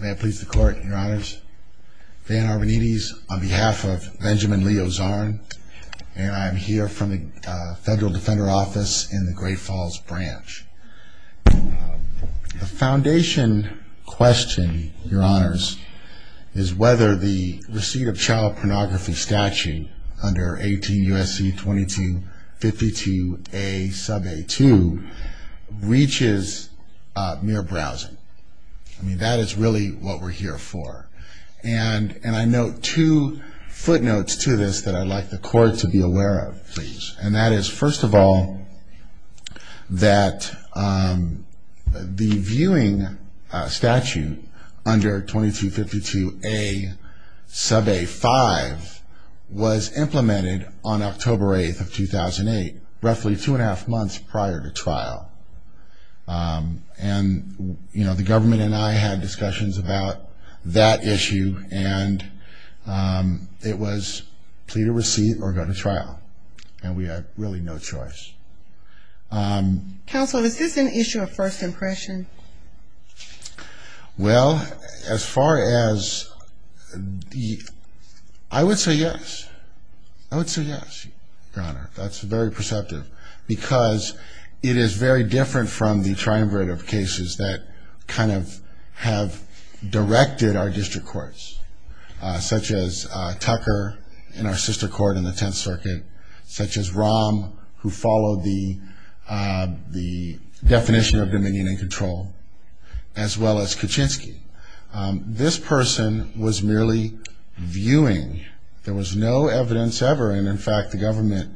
May I please the court, your honors? Van Arbonides on behalf of Benjamin Leo Zarn, and I'm here from the Federal Defender Office in the Great Falls Branch. The foundation question, your honors, is whether the receipt of child pornography statute under 18 U.S.C. 2252A sub A2 reaches mere browsing. I mean, that is really what we're here for. And I note two footnotes to this that I'd like the court to be aware of, please. And that is, first of all, that the viewing statute under 2252A sub A5 was implemented on October 8th of 2008, roughly two and a half months prior to trial. And, you know, the government and I had discussions about that issue, and it was plead a receipt or go to trial. And we had really no choice. Counsel, is this an issue of first impression? Well, as far as the, I would say yes. I would say yes, your honor. That's very perceptive. Because it is very different from the triumvirate of cases that kind of have directed our district courts, such as Tucker in our sister court in the Tenth Circuit, such as Rahm, who followed the definition of dominion and control, as well as Kuczynski. This person was merely viewing. There was no evidence ever. And, in fact, the government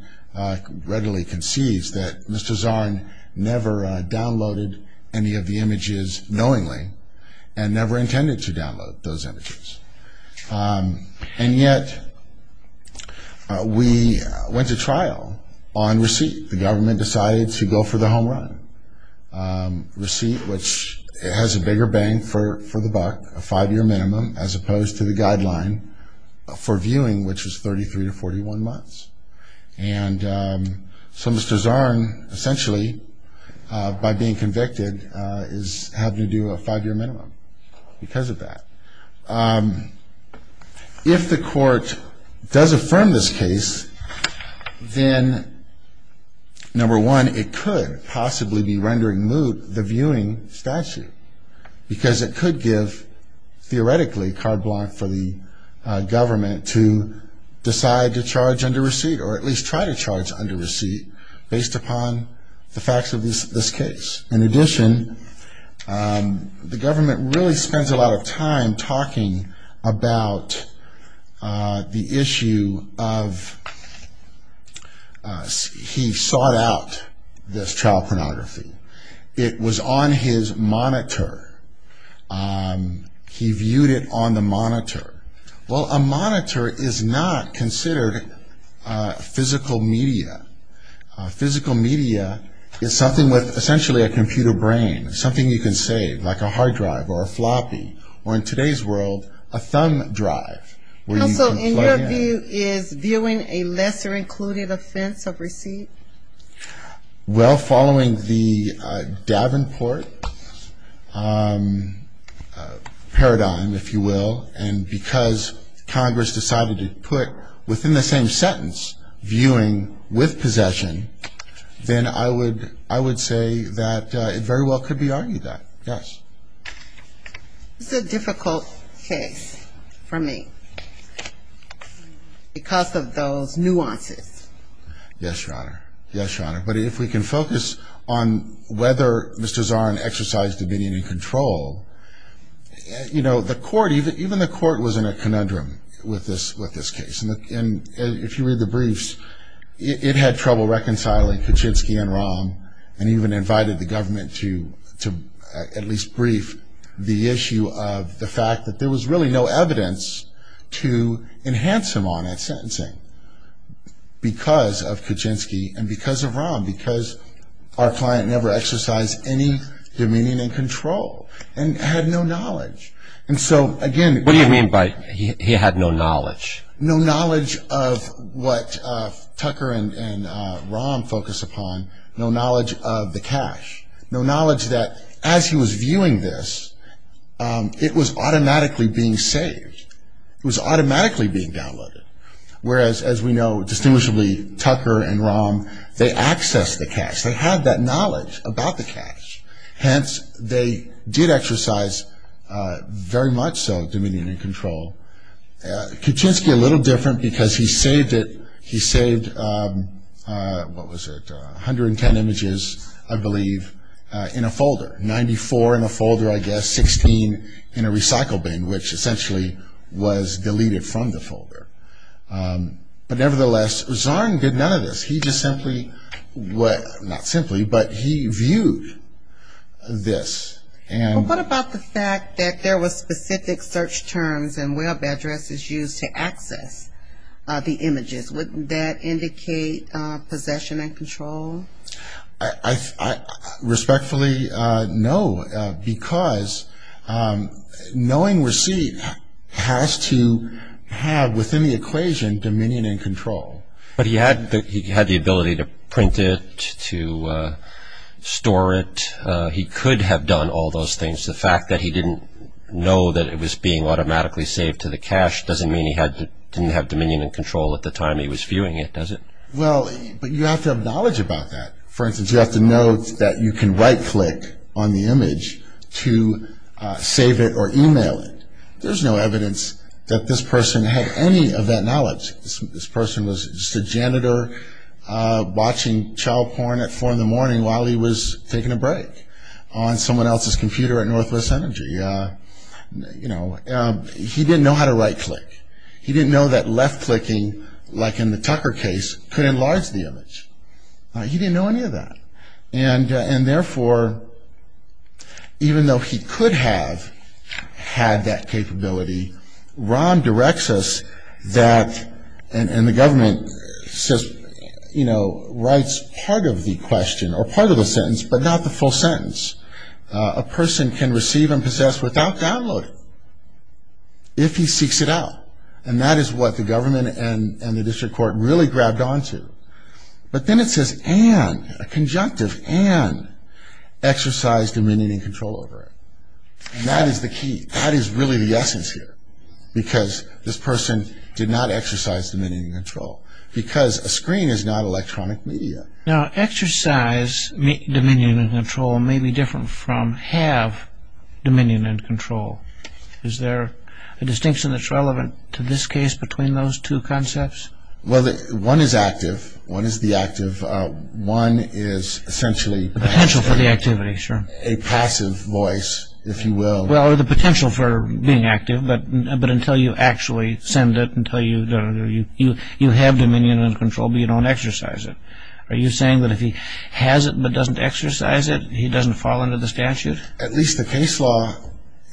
readily concedes that Mr. Zarn never downloaded any of the images knowingly and never intended to download those images. And yet we went to trial on receipt. The government decided to go for the home run. Receipt, which has a bigger bang for the buck, a five-year minimum, as opposed to the guideline for viewing, which is 33 to 41 months. And so Mr. Zarn essentially, by being convicted, is having to do a five-year minimum because of that. If the court does affirm this case, then, number one, it could possibly be rendering moot the viewing statute. Because it could give, theoretically, card block for the government to decide to charge under receipt, or at least try to charge under receipt, based upon the facts of this case. In addition, the government really spends a lot of time talking about the issue of he sought out this trial pornography. It was on his monitor. He viewed it on the monitor. Well, a monitor is not considered physical media. Physical media is something with essentially a computer brain, something you can save, like a hard drive or a floppy, or in today's world, a thumb drive. Counsel, in your view, is viewing a lesser included offense of receipt? Well, following the Davenport paradigm, if you will, and because Congress decided to put, within the same sentence, viewing with possession, then I would say that it very well could be argued that, yes. It's a difficult case for me because of those nuances. Yes, Your Honor. Yes, Your Honor. But if we can focus on whether Mr. Zarn exercised opinion and control, you know, the court, even the court was in a conundrum with this case. And if you read the briefs, it had trouble reconciling Kuczynski and Rahm and even invited the government to at least brief the issue of the fact that there was really no evidence to enhance him on that sentencing because of Kuczynski and because of Rahm, because our client never exercised any opinion and control and had no knowledge. And so, again... What do you mean by he had no knowledge? No knowledge of what Tucker and Rahm focused upon. No knowledge of the cash. No knowledge that, as he was viewing this, it was automatically being saved. It was automatically being downloaded. Whereas, as we know, distinguishably, Tucker and Rahm, they accessed the cash. They had that knowledge about the cash. Hence, they did exercise, very much so, opinion and control. Kuczynski, a little different because he saved it. He saved, what was it, 110 images, I believe, in a folder, 94 in a folder, I guess, 16 in a recycle bin, which essentially was deleted from the folder. But, nevertheless, Zarn did none of this. He just simply, well, not simply, but he viewed this and... The backup address is used to access the images. Wouldn't that indicate possession and control? I respectfully know because knowing receipt has to have, within the equation, dominion and control. But he had the ability to print it, to store it. He could have done all those things. The fact that he didn't know that it was being automatically saved to the cash doesn't mean he didn't have dominion and control at the time he was viewing it, does it? Well, but you have to have knowledge about that. For instance, you have to know that you can right-click on the image to save it or email it. There's no evidence that this person had any of that knowledge. This person was just a janitor watching child porn at 4 in the morning while he was taking a break on someone else's computer at Northwest Energy. He didn't know how to right-click. He didn't know that left-clicking, like in the Tucker case, could enlarge the image. He didn't know any of that. And, therefore, even though he could have had that capability, Ron directs us that, and the government says, you know, writes part of the question or part of the sentence, but not the full sentence. A person can receive and possess without downloading if he seeks it out. And that is what the government and the district court really grabbed onto. But then it says, and, a conjunctive, and exercise dominion and control over it. And that is the key. That is really the essence here, because this person did not exercise dominion and control, because a screen is not electronic media. Now, exercise dominion and control may be different from have dominion and control. Is there a distinction that's relevant to this case between those two concepts? Well, one is active. One is the active. One is essentially passive. Potential for the activity, sure. A passive voice, if you will. Well, the potential for being active, but until you actually send it, until you have dominion and control, but you don't exercise it. Are you saying that if he has it but doesn't exercise it, he doesn't fall under the statute? At least the case law,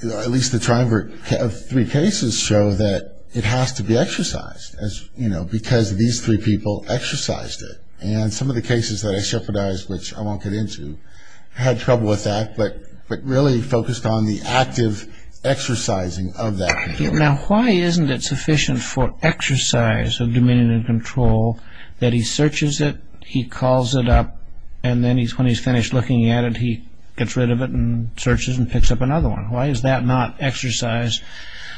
at least the triumvirate of three cases show that it has to be exercised, because these three people exercised it. And some of the cases that I shepherdized, which I won't get into, had trouble with that, but really focused on the active exercising of that. Now, why isn't it sufficient for exercise of dominion and control that he searches it, he calls it up, and then when he's finished looking at it, he gets rid of it and searches and picks up another one? Why is that not exercise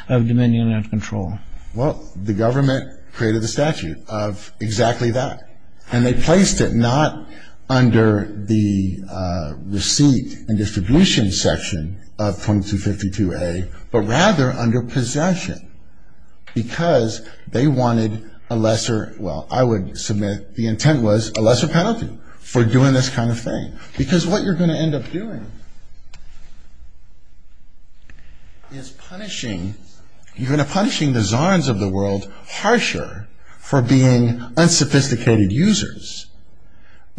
of dominion and control? Well, the government created the statute of exactly that, and they placed it not under the receipt and distribution section of 2252A, but rather under possession, because they wanted a lesser, well, I would submit the intent was a lesser penalty for doing this kind of thing, because what you're going to end up doing is punishing, you're going to punish the czars of the world harsher for being unsophisticated users,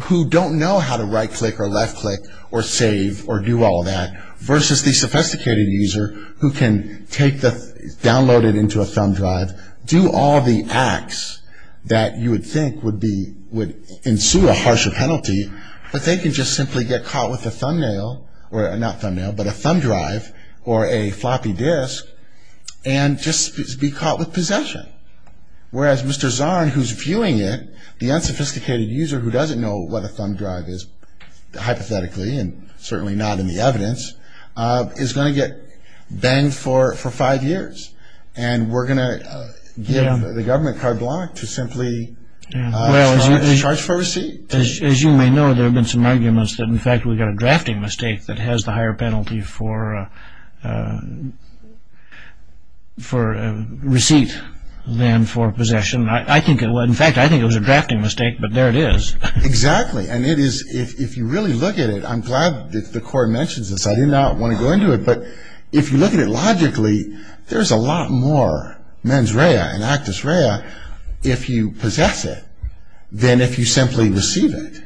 who don't know how to right-click or left-click or save or do all that, versus the sophisticated user who can download it into a thumb drive, do all the acts that you would think would ensue a harsher penalty, but they can just simply get caught with a thumb drive or a floppy disk and just be caught with possession. Whereas Mr. Zarn, who's viewing it, the unsophisticated user who doesn't know what a thumb drive is, hypothetically and certainly not in the evidence, is going to get banged for five years, and we're going to give the government card block to simply charge for receipt. As you may know, there have been some arguments that, in fact, we've got a drafting mistake that has the higher penalty for receipt than for possession. In fact, I think it was a drafting mistake, but there it is. Exactly, and if you really look at it, I'm glad that the court mentions this. I did not want to go into it, but if you look at it logically, there's a lot more mens rea and actus rea if you possess it than if you simply receive it,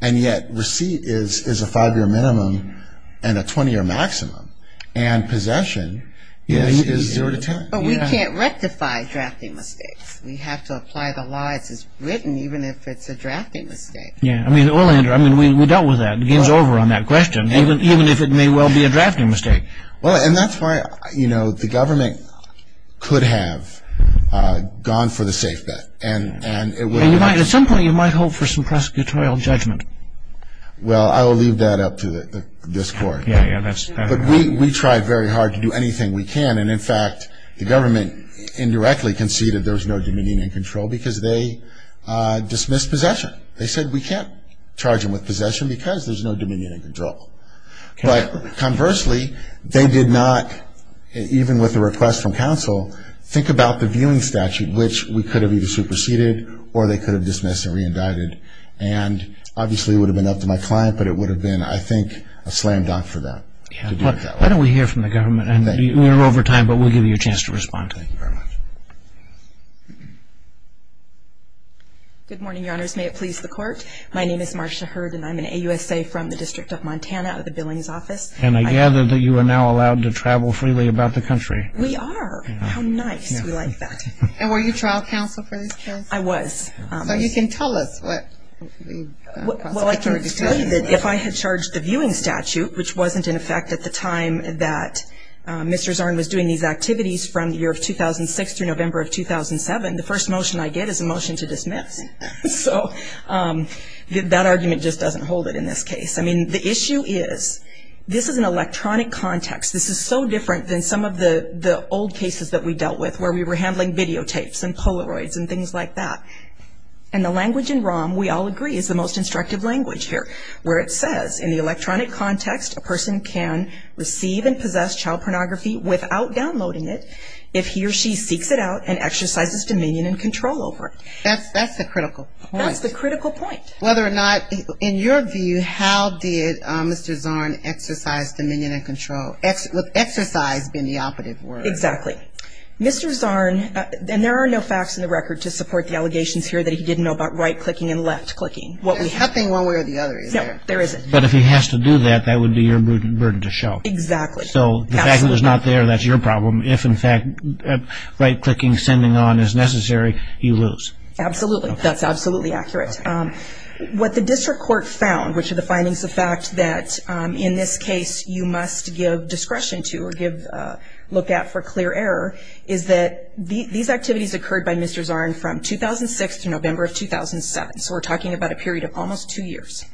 and yet receipt is a five-year minimum and a 20-year maximum, and possession is zero to ten. But we can't rectify drafting mistakes. We have to apply the law. It's written, even if it's a drafting mistake. Yeah, well, Andrew, we dealt with that. The game's over on that question, even if it may well be a drafting mistake. Well, and that's why the government could have gone for the safe bet. At some point, you might hope for some prosecutorial judgment. Well, I will leave that up to this court. But we try very hard to do anything we can, and, in fact, the government indirectly conceded there was no dominion in control because they dismissed possession. They said we can't charge them with possession because there's no dominion in control. But conversely, they did not, even with a request from counsel, think about the viewing statute, which we could have either superseded or they could have dismissed and reindicted, and obviously it would have been up to my client, but it would have been, I think, a slam dunk for them. Why don't we hear from the government? We're over time, but we'll give you a chance to respond. Thank you very much. Good morning, Your Honors. May it please the Court. My name is Marcia Hurd, and I'm an AUSA from the District of Montana at the Billings Office. And I gather that you are now allowed to travel freely about the country. We are. How nice. We like that. And were you trial counsel for this case? I was. So you can tell us what the prosecution decided. I mean, if I had charged the viewing statute, which wasn't in effect at the time that Mr. Zarn was doing these activities from the year of 2006 through November of 2007, the first motion I get is a motion to dismiss. So that argument just doesn't hold it in this case. I mean, the issue is this is an electronic context. This is so different than some of the old cases that we dealt with where we were handling videotapes and Polaroids and things like that. And the language in ROM, we all agree, is the most instructive language here, where it says, in the electronic context, a person can receive and possess child pornography without downloading it if he or she seeks it out and exercises dominion and control over it. That's the critical point. That's the critical point. Whether or not, in your view, how did Mr. Zarn exercise dominion and control? Exercise being the operative word. Exactly. Mr. Zarn, and there are no facts in the record to support the allegations here that he didn't know about right-clicking and left-clicking. There's nothing one way or the other, is there? No, there isn't. But if he has to do that, that would be your burden to show. Exactly. So the fact that it's not there, that's your problem. If, in fact, right-clicking, sending on is necessary, you lose. Absolutely. That's absolutely accurate. What the district court found, which are the findings of fact that, in this case, you must give discretion to or look at for clear error, is that these activities occurred by Mr. Zarn from 2006 to November of 2007. So we're talking about a period of almost two years.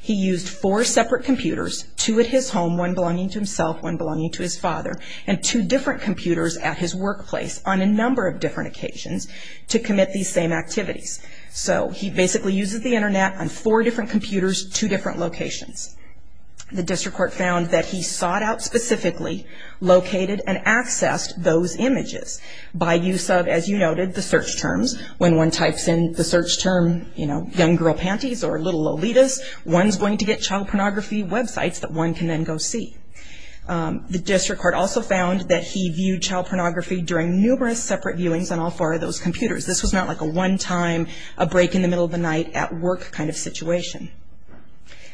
He used four separate computers, two at his home, one belonging to himself, one belonging to his father, and two different computers at his workplace on a number of different occasions to commit these same activities. So he basically uses the Internet on four different computers, two different locations. The district court found that he sought out specifically, located and accessed those images by use of, as you noted, the search terms. When one types in the search term, you know, young girl panties or little lolitas, one's going to get child pornography websites that one can then go see. The district court also found that he viewed child pornography during numerous separate viewings on all four of those computers. This was not like a one-time, a break in the middle of the night at work kind of situation.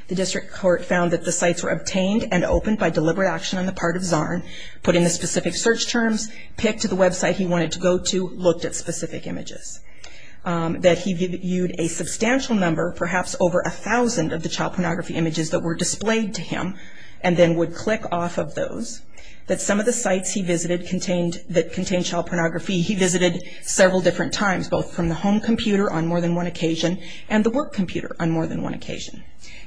The district court found that the sites were obtained and opened by deliberate action on the part of Zarn, put in the specific search terms, picked the website he wanted to go to, looked at specific images. That he viewed a substantial number, perhaps over a thousand of the child pornography images that were displayed to him, and then would click off of those. That some of the sites he visited that contained child pornography, he visited several different times, both from the home computer on more than one occasion and the work computer on more than one occasion.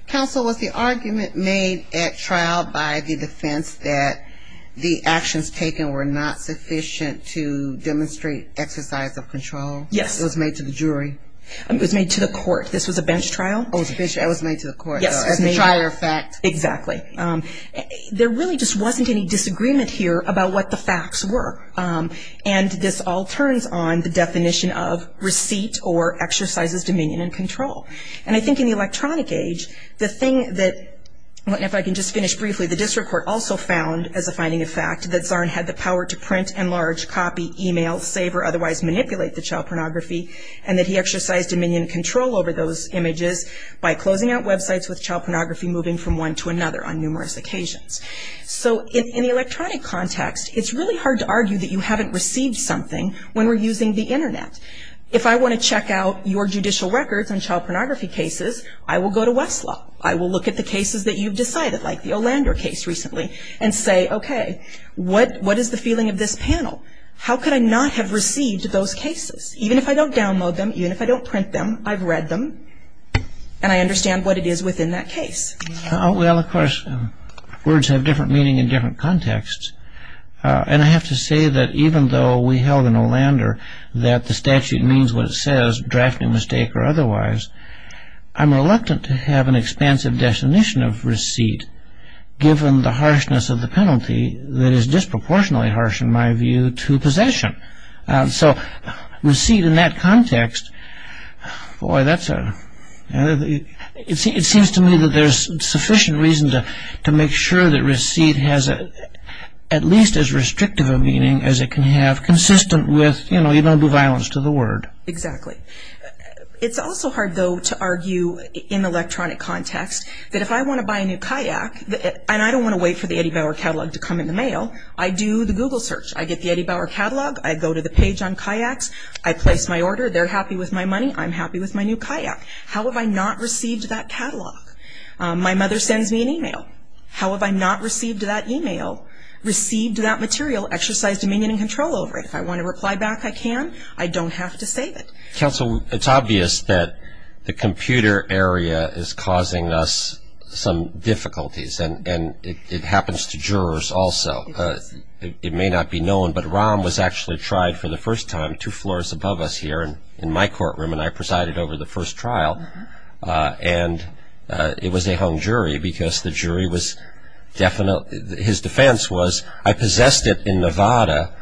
Counsel, was the argument made at trial by the defense that the actions taken were not sufficient to demonstrate exercise of control? Yes. It was made to the jury? It was made to the court. This was a bench trial. Oh, it was a bench trial. It was made to the court. Yes. As a trial or fact. Exactly. There really just wasn't any disagreement here about what the facts were. And this all turns on the definition of receipt or exercises dominion and control. And I think in the electronic age, the thing that, if I can just finish briefly, the district court also found as a finding of fact, that Zarn had the power to print, enlarge, copy, email, save, or otherwise manipulate the child pornography, and that he exercised dominion and control over those images by closing out websites with child pornography moving from one to another on numerous occasions. So in the electronic context, it's really hard to argue that you haven't received something when we're using the Internet. If I want to check out your judicial records on child pornography cases, I will go to Westlaw. I will look at the cases that you've decided, like the Olander case recently, and say, okay, what is the feeling of this panel? How could I not have received those cases? Even if I don't download them, even if I don't print them, I've read them, and I understand what it is within that case. Well, of course, words have different meaning in different contexts, and I have to say that even though we held in Olander that the statute means what it says, draft, new mistake, or otherwise, I'm reluctant to have an expansive definition of receipt given the harshness of the penalty that is disproportionately harsh, in my view, to possession. So receipt in that context, boy, that's a, it seems to me that there's sufficient reason to make sure that receipt has at least as restrictive a meaning as it can have, consistent with, you know, you don't do violence to the word. Exactly. It's also hard, though, to argue in electronic context that if I want to buy a new kayak, and I don't want to wait for the Eddie Bauer catalog to come in the mail, I do the Google search. I get the Eddie Bauer catalog. I go to the page on kayaks. I place my order. They're happy with my money. I'm happy with my new kayak. How have I not received that catalog? My mother sends me an email. How have I not received that email, received that material, exercised dominion and control over it? If I want to reply back, I can. I don't have to save it. Counsel, it's obvious that the computer area is causing us some difficulties, and it happens to jurors also. It may not be known, but Rahm was actually tried for the first time, two floors above us here in my courtroom, and I presided over the first trial. And it was a hung jury because the jury was definite. His defense was, I possessed it in Nevada,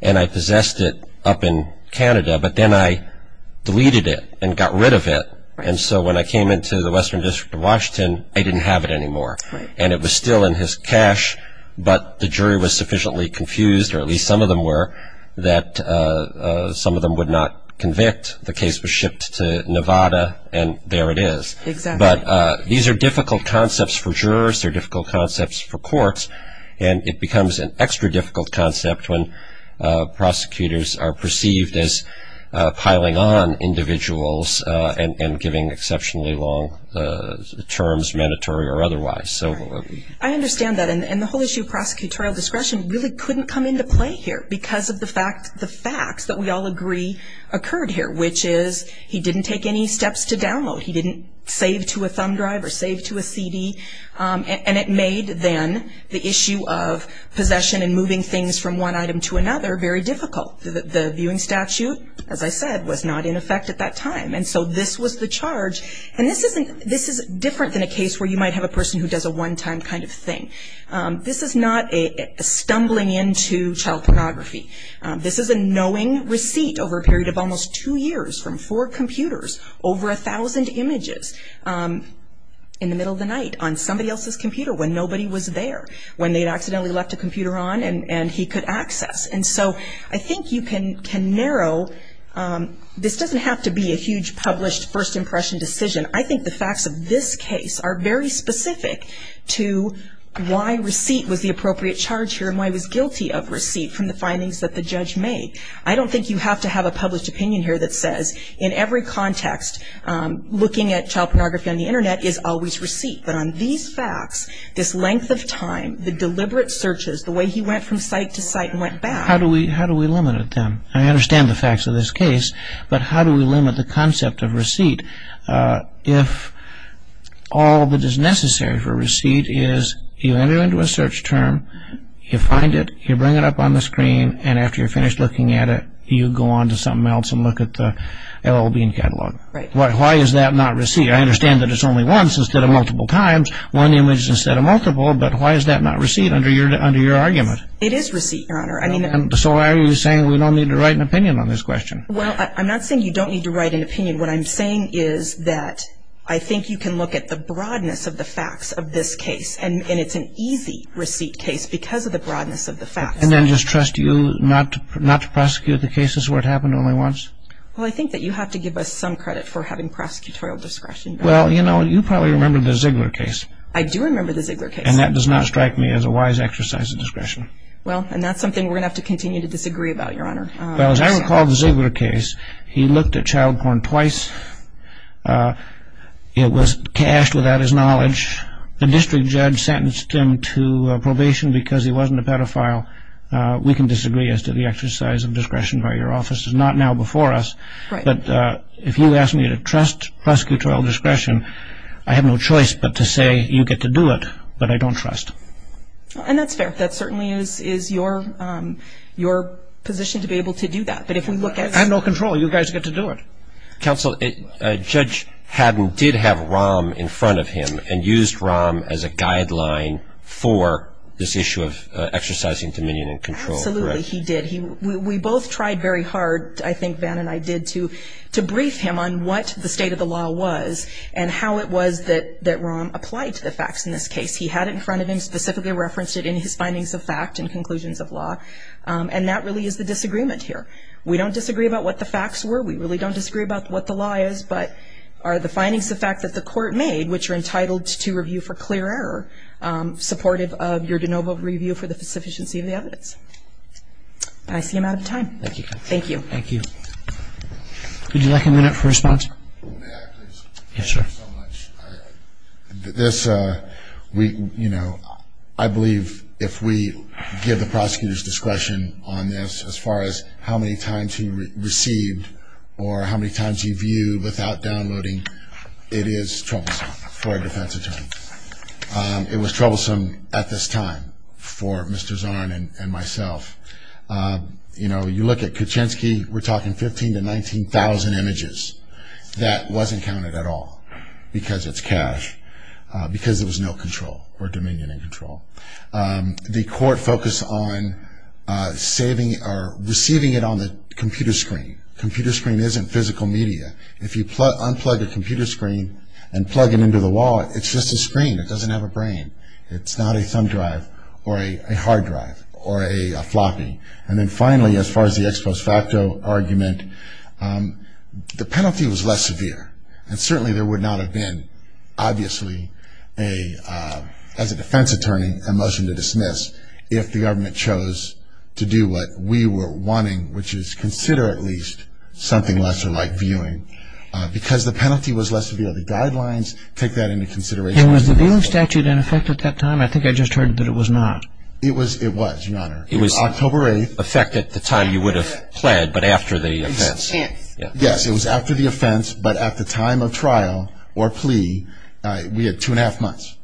and I possessed it up in Canada, but then I deleted it and got rid of it. And so when I came into the Western District of Washington, I didn't have it anymore. And it was still in his cash, but the jury was sufficiently confused, or at least some of them were, that some of them would not convict. The case was shipped to Nevada, and there it is. But these are difficult concepts for jurors. They're difficult concepts for courts, and it becomes an extra difficult concept when prosecutors are perceived as piling on individuals and giving exceptionally long terms, mandatory or otherwise. I understand that. And the whole issue of prosecutorial discretion really couldn't come into play here because of the facts that we all agree occurred here, which is he didn't take any steps to download. He didn't save to a thumb drive or save to a CD. And it made, then, the issue of possession and moving things from one item to another very difficult. The viewing statute, as I said, was not in effect at that time. And so this was the charge. And this is different than a case where you might have a person who does a one-time kind of thing. This is not a stumbling into child pornography. This is a knowing receipt over a period of almost two years from four computers, over 1,000 images in the middle of the night on somebody else's computer when nobody was there, when they had accidentally left a computer on and he could access. And so I think you can narrow. This doesn't have to be a huge published first impression decision. I think the facts of this case are very specific to why receipt was the appropriate charge here and why he was guilty of receipt from the findings that the judge made. I don't think you have to have a published opinion here that says, in every context, looking at child pornography on the Internet is always receipt. But on these facts, this length of time, the deliberate searches, the way he went from site to site and went back. How do we limit it then? I understand the facts of this case, but how do we limit the concept of receipt if all that is necessary for receipt is you enter into a search term, you find it, you bring it up on the screen, and after you're finished looking at it, you go on to something else and look at the L.L. Bean catalog. Why is that not receipt? I understand that it's only once instead of multiple times, one image instead of multiple, but why is that not receipt under your argument? It is receipt, Your Honor. So why are you saying we don't need to write an opinion on this question? Well, I'm not saying you don't need to write an opinion. What I'm saying is that I think you can look at the broadness of the facts of this case, and it's an easy receipt case because of the broadness of the facts. And then just trust you not to prosecute the cases where it happened only once? Well, I think that you have to give us some credit for having prosecutorial discretion. Well, you know, you probably remember the Ziegler case. I do remember the Ziegler case. And that does not strike me as a wise exercise of discretion. Well, and that's something we're going to have to continue to disagree about, Your Honor. Well, as I recall the Ziegler case, he looked at child porn twice. It was cached without his knowledge. The district judge sentenced him to probation because he wasn't a pedophile. We can disagree as to the exercise of discretion by your office. It's not now before us. Right. But if you ask me to trust prosecutorial discretion, I have no choice but to say you get to do it, but I don't trust. And that's fair. That certainly is your position to be able to do that. But if we look at... I have no control. You guys get to do it. Counsel, Judge Haddon did have Rahm in front of him and used Rahm as a guideline for this issue of exercising dominion and control, correct? Absolutely, he did. We both tried very hard, I think Van and I did, to brief him on what the state of the law was and how it was that Rahm applied to the facts in this case. He had it in front of him, specifically referenced it in his findings of fact and conclusions of law, and that really is the disagreement here. We don't disagree about what the facts were. We really don't disagree about what the law is, but are the findings of fact that the court made, which are entitled to review for clear error, supportive of your de novo review for the sufficiency of the evidence? And I see I'm out of time. Thank you. Thank you. Thank you. Would you like a minute for response? May I, please? Yes, sir. Thank you so much. This, you know, I believe if we give the prosecutor's discretion on this as far as how many times he received or how many times he viewed without downloading, it is troublesome for a defense attorney. It was troublesome at this time for Mr. Zarn and myself. You know, you look at Kuczynski, we're talking 15,000 to 19,000 images. That wasn't counted at all because it's cash, because there was no control or dominion in control. The court focused on receiving it on the computer screen. Computer screen isn't physical media. If you unplug a computer screen and plug it into the wallet, it's just a screen. It doesn't have a brain. It's not a thumb drive or a hard drive or a floppy. And then finally, as far as the ex post facto argument, the penalty was less severe. And certainly there would not have been, obviously, as a defense attorney, a motion to dismiss if the government chose to do what we were wanting, which is consider at least something lesser like viewing, because the penalty was less severe. The guidelines take that into consideration. And was the viewing statute in effect at that time? It was, Your Honor. It was in effect at the time you would have planned, but after the offense. Yes, it was after the offense, but at the time of trial or plea, we had two and a half months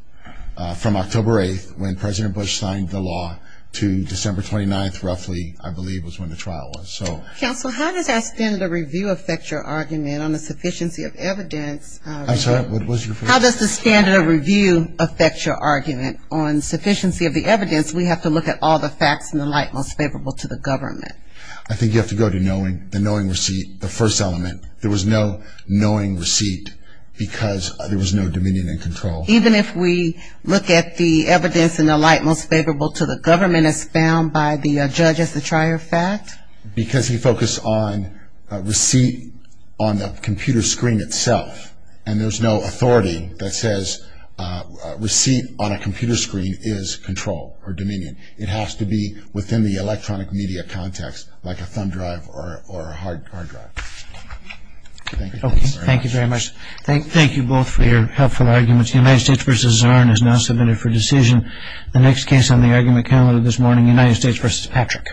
from October 8th when President Bush signed the law to December 29th roughly, I believe, was when the trial was. Counsel, how does that standard of review affect your argument on the sufficiency of evidence? I'm sorry, what was your question? How does the standard of review affect your argument on sufficiency of the evidence? We have to look at all the facts in the light most favorable to the government. I think you have to go to the knowing receipt, the first element. There was no knowing receipt because there was no dominion and control. Even if we look at the evidence in the light most favorable to the government as found by the judge as the trier fact? Because he focused on receipt on the computer screen itself, and there's no authority that says receipt on a computer screen is control or dominion. It has to be within the electronic media context like a thumb drive or a hard drive. Thank you very much. Okay, thank you very much. Thank you both for your helpful arguments. United States v. Zarn is now submitted for decision. The next case on the argument calendar this morning, United States v. Patrick. Thank you.